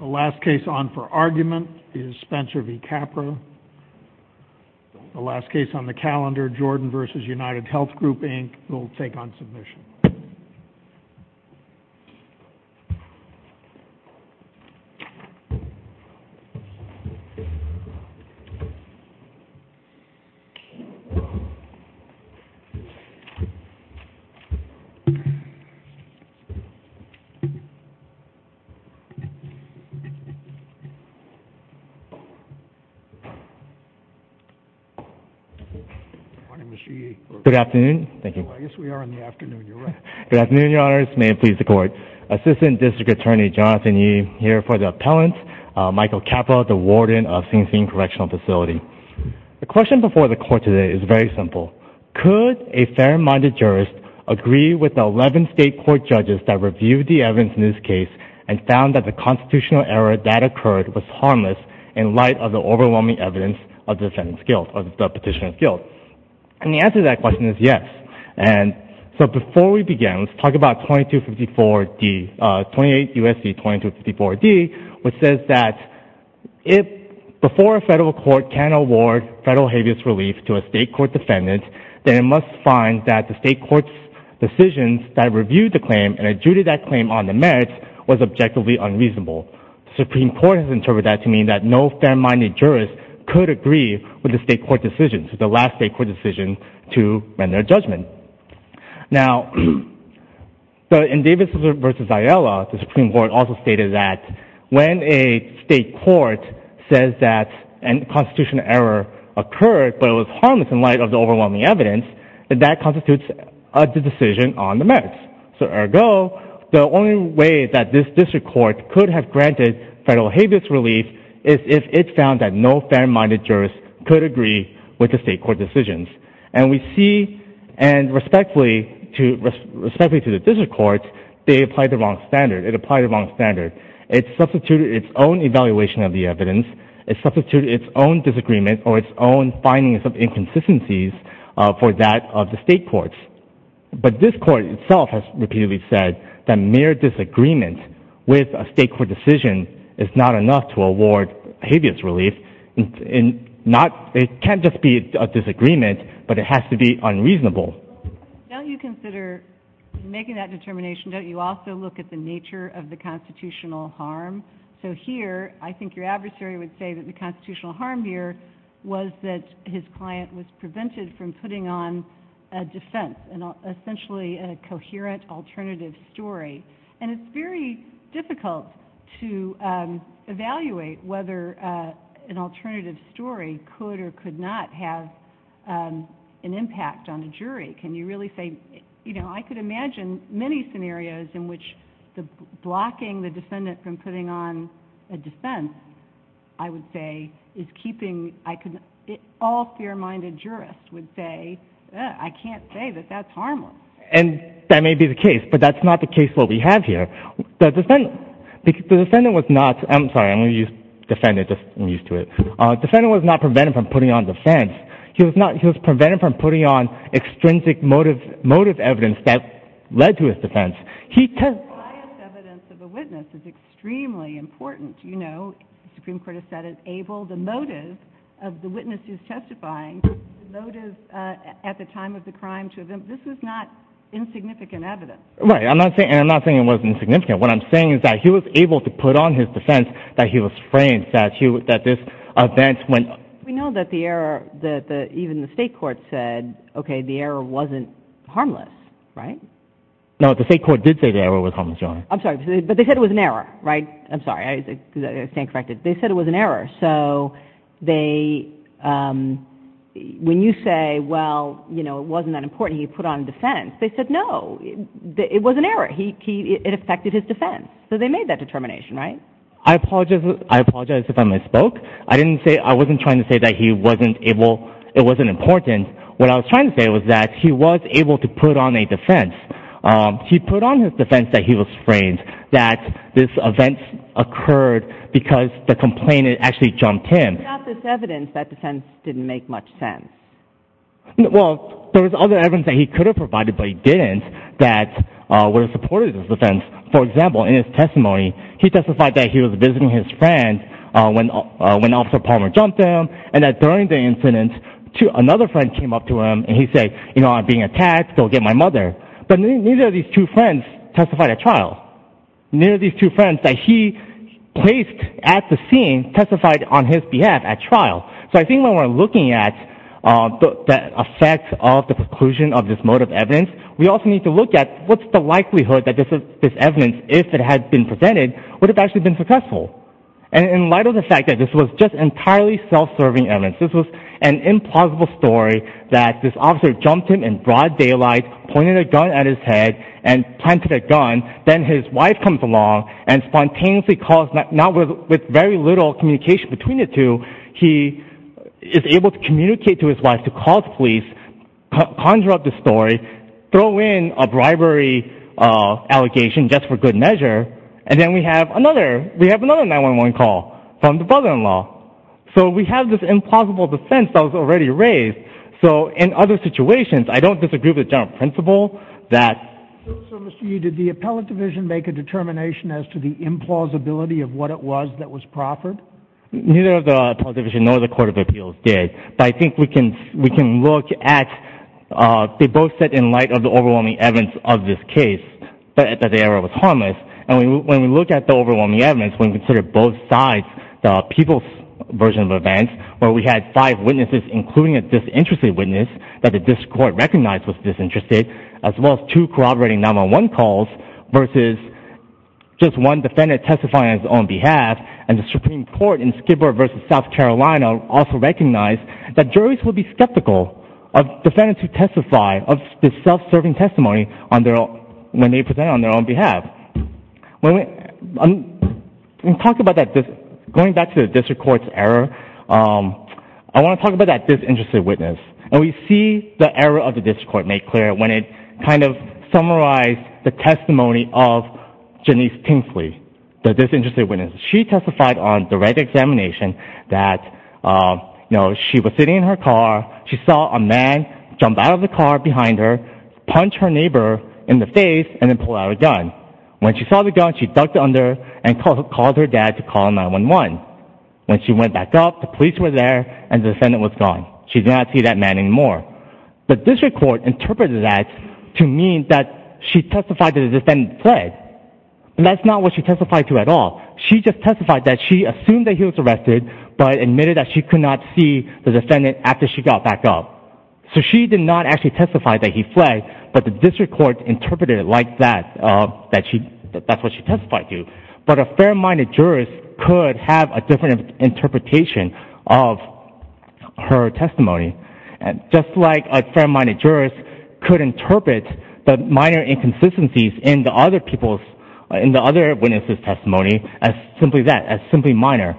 The last case on for argument is Spencer v. Capra. The last case on the calendar, Jordan v. United Health Group, Inc., will take on submission. The question before the court today is very simple. Could a fair-minded jurist agree with the 11 state court judges that reviewed the evidence in this case and found that the constitutional error that occurred was harmless in light of the overwhelming evidence of the petitioner's guilt? And the answer to that question is yes. And so before we begin, let's talk about 2254d, 28 U.S.C. 2254d, which says that if before a federal court can award federal habeas relief to a state court defendant, then it must find that the state court's decisions that reviewed the claim and adjudicated that claim on the merits was objectively unreasonable. The Supreme Court has interpreted that to mean that no fair-minded jurist could agree with the state court decisions, the last state court decision to mend their judgment. Now in Davis v. Aiella, the Supreme Court also stated that when a state court says that a constitutional error occurred but it was harmless in light of the overwhelming evidence, that that constitutes a decision on the merits. So ergo, the only way that this district court could have granted federal habeas relief is if it found that no fair-minded jurist could agree with the state court decisions. And we see, and respectfully to the district courts, they applied the wrong standard. It applied the wrong standard. It substituted its own evaluation of the evidence. It substituted its own disagreement or its own findings of inconsistencies for that of the state courts. But this court itself has repeatedly said that mere disagreement with a state court decision is not enough to award habeas relief. It can't just be a disagreement, but it has to be unreasonable. Don't you consider, in making that determination, don't you also look at the nature of the constitutional harm? So here, I think your adversary would say that the constitutional harm here was that his client was prevented from putting on a defense, essentially a coherent alternative story. And it's very difficult to evaluate whether an alternative story could or could not have an impact on a jury. Can you really say, you know, I could imagine many scenarios in which the blocking the defendant from putting on a defense, I would say, is keeping, I could, all fair-minded jurists would say, I can't say that that's harmless. And that may be the case, but that's not the case that we have here. The defendant, the defendant was not, I'm sorry, I'm going to use defendant, I'm used to it. The defendant was not prevented from putting on defense. He was not, he was prevented from putting on extrinsic motive evidence that led to his defense. He testified as evidence of a witness is extremely important, you know, the Supreme Court has said it's able, the motive of the witness who's testifying, the motive at the time of the crime to have been, this is not insignificant evidence. Right. I'm not saying, and I'm not saying it wasn't insignificant. What I'm saying is that he was able to put on his defense that he was framed, that he, that this event went. We know that the error, that the, even the state court said, okay, the error wasn't harmless, right? No, the state court did say the error was harmless, Your Honor. I'm sorry, but they said it was an error, right? I'm sorry, I think I corrected. They said it was an error. So they, when you say, well, you know, it wasn't that important, he put on defense. They said, no, it was an error. It affected his defense. So they made that determination, right? I apologize. I apologize if I misspoke. I didn't say, I wasn't trying to say that he wasn't able, it wasn't important. What I was trying to say was that he was able to put on a defense. He put on his defense that he was framed, that this event occurred because the complainant actually jumped him. Without this evidence, that defense didn't make much sense. Well, there was other evidence that he could have provided, but he didn't, that would have supported his defense. For example, in his testimony, he testified that he was visiting his friend when Officer Palmer jumped him, and that during the incident, another friend came up to him and he said, you know, I'm being attacked, go get my mother. But neither of these two friends testified at trial. Neither of these two friends that he placed at the scene testified on his behalf at trial. So I think when we're looking at the effects of the preclusion of this mode of evidence, we also need to look at what's the likelihood that this evidence, if it had been presented, would have actually been successful. In light of the fact that this was just entirely self-serving evidence, this was an implausible story that this officer jumped him in broad daylight, pointed a gun at his head, and planted a gun. Then his wife comes along and spontaneously calls, now with very little communication between the two, he is able to communicate to his wife to call the police, conjure up the story, throw in a bribery allegation just for good measure, and then we have another 9-1-1 call from the mother-in-law. So we have this implausible defense that was already raised. So in other situations, I don't disagree with the general principle that... So, Mr. Yu, did the appellate division make a determination as to the implausibility of what it was that was proffered? Neither the appellate division nor the Court of Appeals did. But I think we can look at, they both said in light of the overwhelming evidence of this case, that the error was harmless, and when we look at the overwhelming evidence, when we consider both sides, the people's version of events, where we had five witnesses, including a disinterested witness that this court recognized was disinterested, as well as two corroborating 9-1-1 calls versus just one defendant testifying on his own behalf, and the Supreme Court in Skidmore versus South Carolina also recognized that juries would be skeptical of defendants who testify of the self-serving testimony when they present on their own behalf. When we talk about that, going back to the district court's error, I want to talk about that disinterested witness. And we see the error of the district court made clear when it kind of summarized the testimony of Janice Tinsley, the disinterested witness. She testified on direct examination that, you know, she was sitting in her car, she saw a man jump out of the car behind her, punch her neighbor in the face, and then pull out a gun. When she saw the gun, she ducked under and called her dad to call 9-1-1. When she went back up, the police were there, and the defendant was gone. She did not see that man anymore. The district court interpreted that to mean that she testified that the defendant fled. That's not what she testified to at all. She just testified that she assumed that he was arrested, but admitted that she could not see the defendant after she got back up. So she did not actually testify that he fled, but the district court interpreted it like that, that that's what she testified to. But a fair-minded jurist could have a different interpretation of her testimony, just like a fair-minded jurist could interpret the minor inconsistencies in the other people's, in the other witness' testimony as simply that, as simply minor.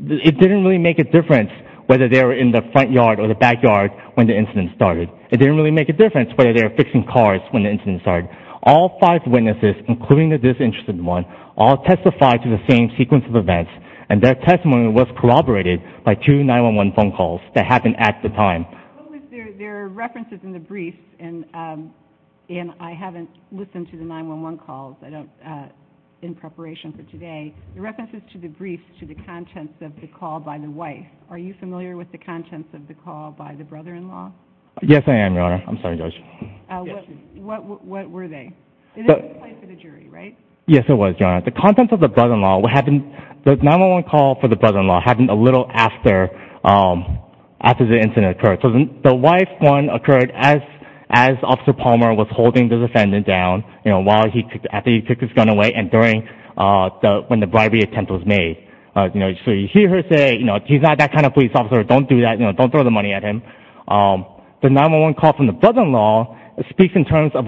It didn't really make a difference whether they were in the front yard or the back yard when the incident started. It didn't really make a difference whether they were fixing cars when the incident started. All five witnesses, including the disinterested one, all testified to the same sequence of events, and their testimony was corroborated by two 911 phone calls that happened at the time. There are references in the briefs, and I haven't listened to the 911 calls in preparation for today. The references to the briefs, to the contents of the call by the wife, are you familiar with the contents of the call by the brother-in-law? Yes, I am, Your Honor. I'm sorry, Judge. What were they? It was a complaint for the jury, right? Yes, it was, Your Honor. The contents of the brother-in-law, what happened, the 911 call for the brother-in-law happened a little after the incident occurred. So the wife, one, occurred as Officer Palmer was holding the defendant down, you know, after he took his gun away, and during when the bribery attempt was made. So you hear her say, you know, he's not that kind of police officer, don't do that, you know, don't throw the money at him. The 911 call from the brother-in-law speaks in terms of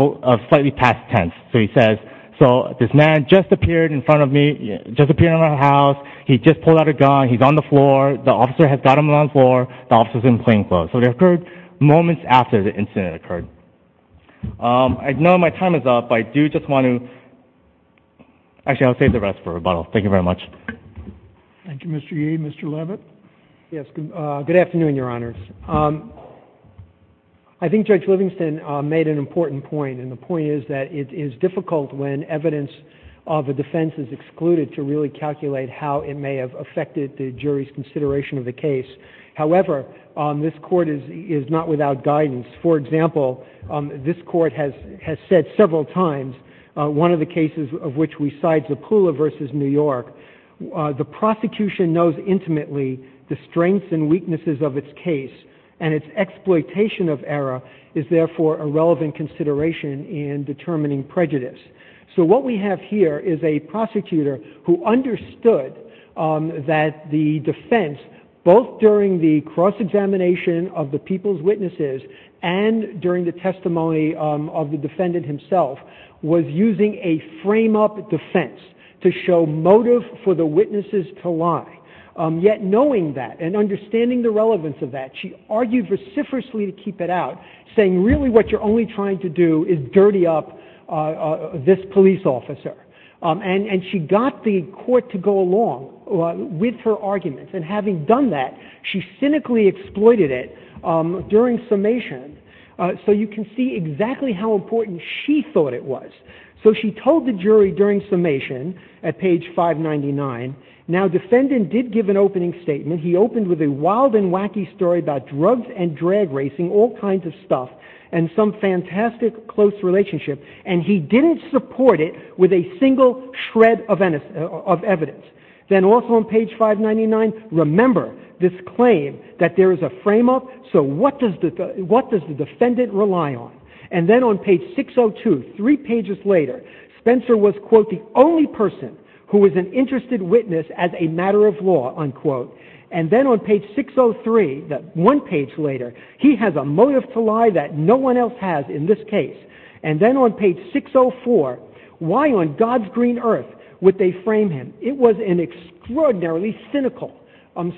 slightly past tense. So he says, so this man just appeared in front of me, just appeared in my house, he just pulled out a gun, he's on the floor, the officer has got him on the floor, the officer's in plainclothes. So it occurred moments after the incident occurred. I know my time is up, but I do just want to, actually, I'll save the rest for rebuttal. Thank you very much. Thank you, Mr. Yee. Mr. Levitt? Yes, good afternoon, Your Honors. I think Judge Livingston made an important point, and the point is that it is difficult when evidence of a defense is excluded to really calculate how it may have affected the jury's consideration of the case. However, this Court is not without guidance. For example, this Court has said several times, one of the cases of which we cite, Zappullo v. New York, the prosecution knows intimately the strengths and weaknesses of its case, and its exploitation of error is therefore a relevant consideration in determining prejudice. So what we have here is a prosecutor who understood that the defense, both during the cross-examination of the people's witnesses and during the testimony of the defendant himself, was using a frame-up yet knowing that and understanding the relevance of that, she argued vociferously to keep it out, saying, really, what you're only trying to do is dirty up this police officer. And she got the Court to go along with her arguments, and having done that, she cynically exploited it during summation, so you can see exactly how important she thought it was. So she told the jury during summation, at page 599, now defendant did give an opening statement, he opened with a wild and wacky story about drugs and drag racing, all kinds of stuff, and some fantastic close relationship, and he didn't support it with a single shred of evidence. Then also on page 599, remember this claim that there is a frame-up, so what does the defendant rely on? And then on page 602, three pages later, Spencer was, quote, the only person who was an interested witness as a matter of law, unquote, and then on page 603, one page later, he has a motive to lie that no one else has in this case. And then on page 604, why on God's green earth would they frame him? It was an extraordinarily cynical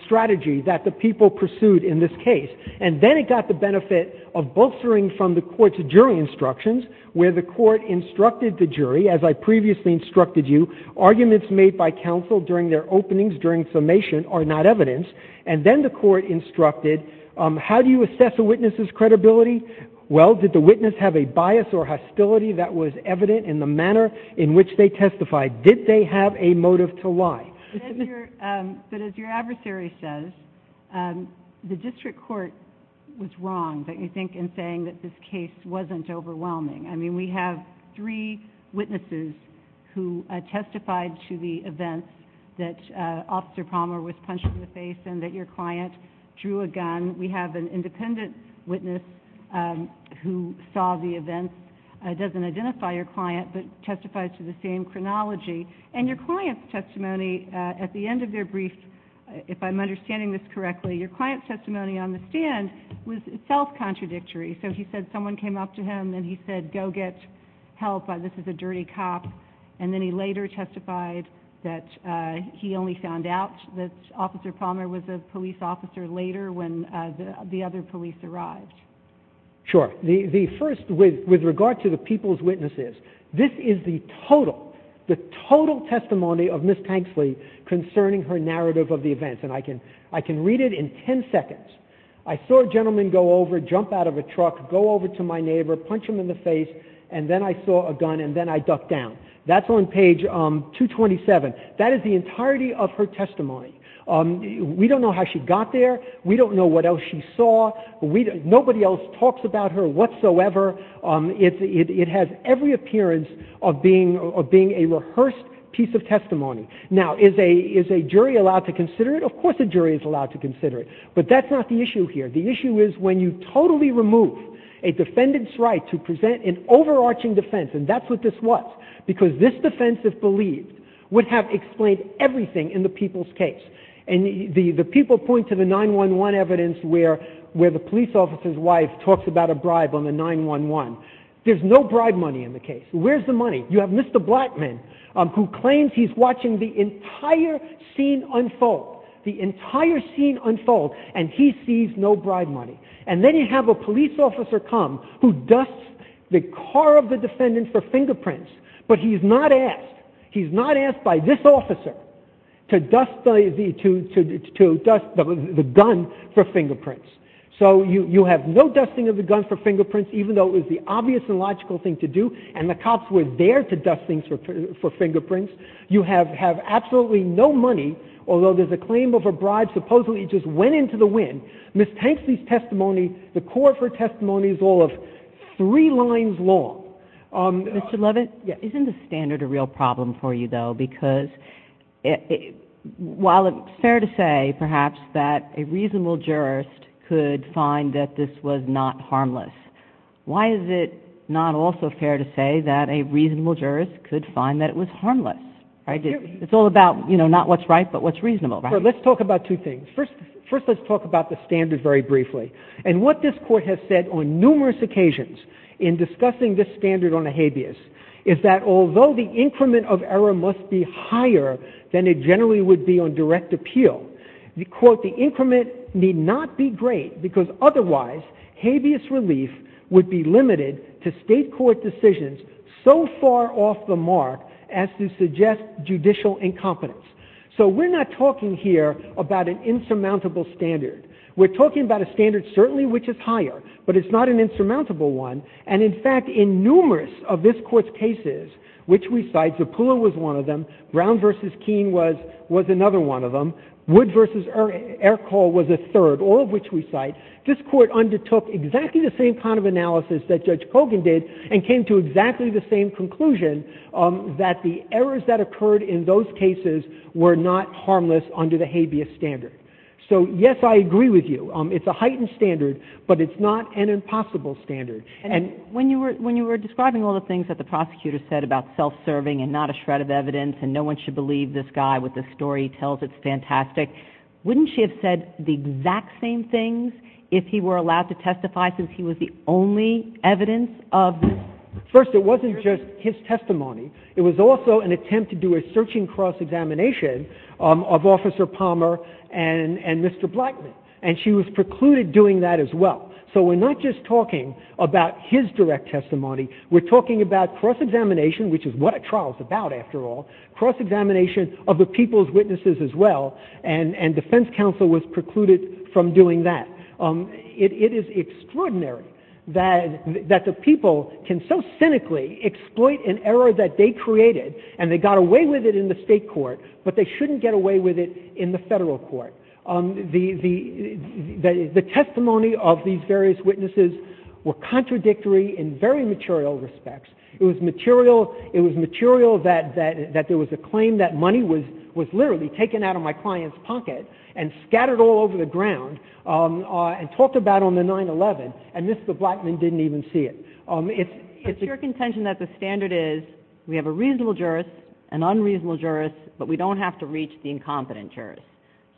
strategy that the people pursued in this case, and then it got the benefit of bolstering from the court's jury instructions, where the court instructed the jury, as I previously instructed you, arguments made by counsel during their openings, during summation, are not evidence, and then the court instructed, how do you assess a witness's credibility? Well, did the witness have a bias or hostility that was evident in the manner in which they testified? Did they have a motive to lie? But as your adversary says, the district court was wrong that you think in saying that this case wasn't overwhelming. I mean, we have three witnesses who testified to the events that Officer Palmer was punched in the face and that your client drew a gun. We have an independent witness who saw the events, doesn't identify your client, but testified to the same chronology. And your client's testimony at the end of their brief, if I'm understanding this correctly, your client's testimony on the stand was self-contradictory. So he said someone came up to him and he said, go get help, this is a dirty cop, and then he later testified that he only found out that Officer Palmer was a police officer later when the other police arrived. Sure. The first, with regard to the people's witnesses, this is the total, the total testimony of Ms. Tanksley concerning her narrative of the events. And I can read it in 10 seconds. I saw a gentleman go over, jump out of a truck, go over to my neighbor, punch him in the face, and then I saw a gun and then I ducked down. That's on page 227. That is the entirety of her testimony. We don't know how she got there. We don't know what else she saw. Nobody else talks about her whatsoever. It has every appearance of being a rehearsed piece of testimony. Now, is a jury allowed to consider it? Of course a jury is allowed to consider it. But that's not the issue here. The issue is when you totally remove a defendant's right to present an overarching defense, and that's what this was, because this defense, if believed, would have explained everything in the people's case. And the people point to the 9-1-1 evidence where the police officer's wife talks about a bribe on the 9-1-1. There's no bribe money in the case. Where's the money? You have Mr. Blackman, who claims he's watching the entire scene unfold, the entire scene unfold, and he sees no bribe money. And then you have a police officer come who dusts the car of the defendant for fingerprints, but he's not asked. He's not asked by this officer to dust the gun for fingerprints. So you have no dusting of the gun for fingerprints, even though it was the obvious and logical thing to do, and the cops were there to dust things for fingerprints. You have absolutely no money, although there's a claim of a bribe supposedly just went into the wind. Ms. Tanksy's testimony, the court for testimony is all of three lines long. Mr. Levitt, isn't the standard a real problem for you, though, because while it's fair to say, perhaps, that a reasonable jurist could find that this was not harmless, why is it not also fair to say that a reasonable jurist could find that it was harmless? It's all about, you know, not what's right, but what's reasonable, right? Let's talk about two things. First, let's talk about the standard very briefly. And what this court has said on numerous occasions in discussing this standard on a habeas is that although the increment of error must be higher than it generally would be on direct appeal, quote, the increment need not be great because otherwise habeas relief would be limited to state court decisions so far off the mark as to suggest judicial incompetence. So we're not talking here about an insurmountable standard. We're talking about a standard certainly which is higher, but it's not an insurmountable one. And in fact, in numerous of this court's cases, which we cite, Zappullo was one of them, Brown v. Keene was another one of them, Wood v. Ercol was a third, all of which we cite, this court undertook exactly the same kind of analysis that Judge Kogan did and came to exactly the same conclusion that the errors that occurred in those cases were not harmless under the habeas standard. So yes, I agree with you. It's a heightened standard, but it's not an impossible standard. And when you were describing all the things that the prosecutor said about self-serving and not a shred of evidence and no one should believe this guy with the story he tells, it's fantastic, wouldn't she have said the exact same things if he were allowed to testify since he was the only evidence of this? First, it wasn't just his testimony. It was also an attempt to do a searching cross-examination of Officer Palmer and Mr. Blackman. And she was precluded doing that as well. So we're not just talking about his direct testimony, we're talking about cross-examination, which is what a trial is about, after all, cross-examination of the people's witnesses as well, and defense counsel was precluded from doing that. It is extraordinary that the people can so cynically exploit an error that they created and they got away with it in the state court, but they shouldn't get away with it in the federal court. The testimony of these various witnesses were contradictory in very material respects. It was material that there was a claim that money was literally taken out of my client's and talked about on the 9-11, and Mr. Blackman didn't even see it. It's your contention that the standard is we have a reasonable jurist, an unreasonable jurist, but we don't have to reach the incompetent jurist.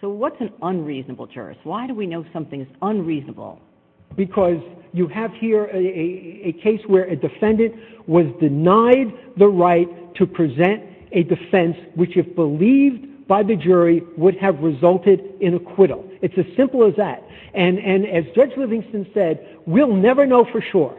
So what's an unreasonable jurist? Why do we know something is unreasonable? Because you have here a case where a defendant was denied the right to present a defense which, if believed by the jury, would have resulted in acquittal. It's as simple as that. And as Judge Livingston said, we'll never know for sure.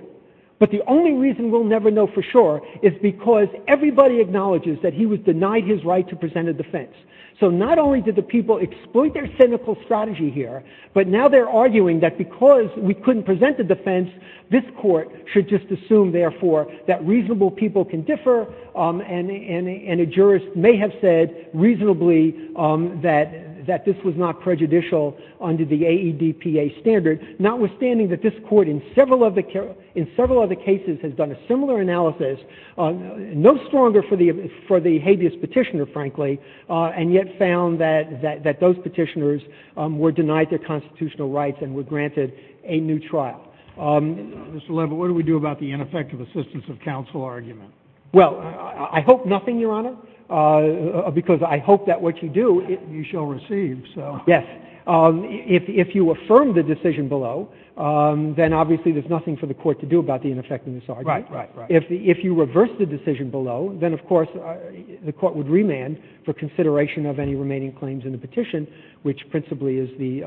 But the only reason we'll never know for sure is because everybody acknowledges that he was denied his right to present a defense. So not only did the people exploit their cynical strategy here, but now they're arguing that because we couldn't present a defense, this court should just assume, therefore, that reasonable people can differ and a jurist may have said reasonably that this was not prejudicial under the AEDPA standard, notwithstanding that this court in several other cases has done a similar analysis, no stronger for the habeas petitioner, frankly, and yet found that those petitioners were denied their constitutional rights and were granted a new trial. Mr. Levin, what do we do about the ineffective assistance of counsel argument? Well, I hope nothing, Your Honor, because I hope that what you do… You shall receive. Yes. If you affirm the decision below, then obviously there's nothing for the court to do about the ineffectiveness argument. Right, right, right. If you reverse the decision below, then of course the court would remand for consideration of any remaining claims in the petition, which principally is the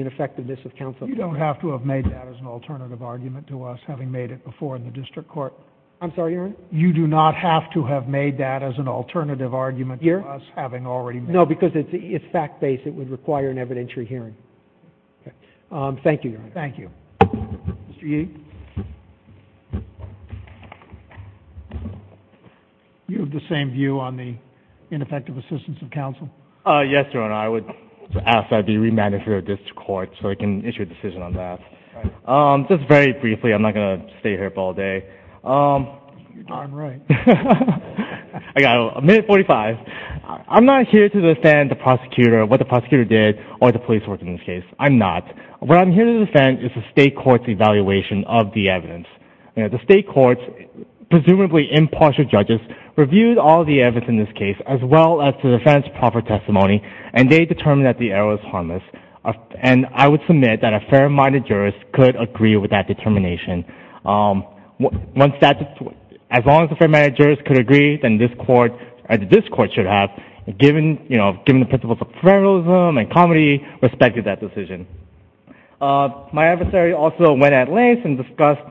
ineffectiveness of counsel. You don't have to have made that as an alternative argument to us having made it before in the district court. I'm sorry, Your Honor? You do not have to have made that as an alternative argument to us having already made it. No, because it's fact-based. It would require an evidentiary hearing. Thank you, Your Honor. Thank you. Mr. Yee? You have the same view on the ineffective assistance of counsel? Yes, Your Honor. I would ask that it be remanded for the district court so it can issue a decision on that. Right. Just very briefly. I'm not going to stay here all day. You're darn right. I got a minute, 45. I'm not here to defend the prosecutor, what the prosecutor did, or the police work in this case. I'm not. What I'm here to defend is the state court's evaluation of the evidence. The state court, presumably impartial judges, reviewed all the evidence in this case, as well as the defense proper testimony, and they determined that the error was harmless. And I would submit that a fair-minded jurist could agree with that determination. As long as the fair-minded jurist could agree, then this court, or this court should have, given the principles of criminalism and comedy, respected that decision. My adversary also went at length and discussed,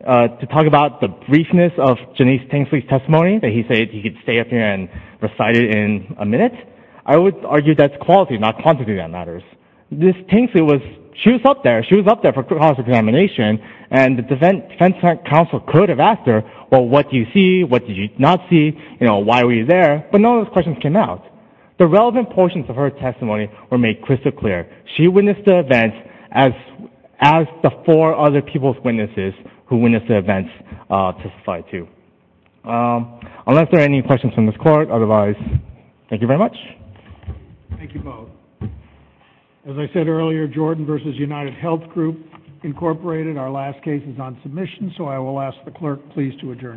to talk about the briefness of Janice Tingsley's testimony, that he said he could stay up here and recite it in a minute. I would argue that's quality, not quantity that matters. This Tingsley was, she was up there. She was up there for cross-examination, and the defense counsel could have asked her, well, what do you see? What did you not see? You know, why were you there? But none of those questions came out. The relevant portions of her testimony were made crystal clear. She witnessed the events as the four other people's witnesses who witnessed the events testified to. Unless there are any questions from this court, otherwise, thank you very much. Thank you both. As I said earlier, Jordan v. UnitedHealth Group, Incorporated. Our last case is on submission, so I will ask the clerk please to adjourn.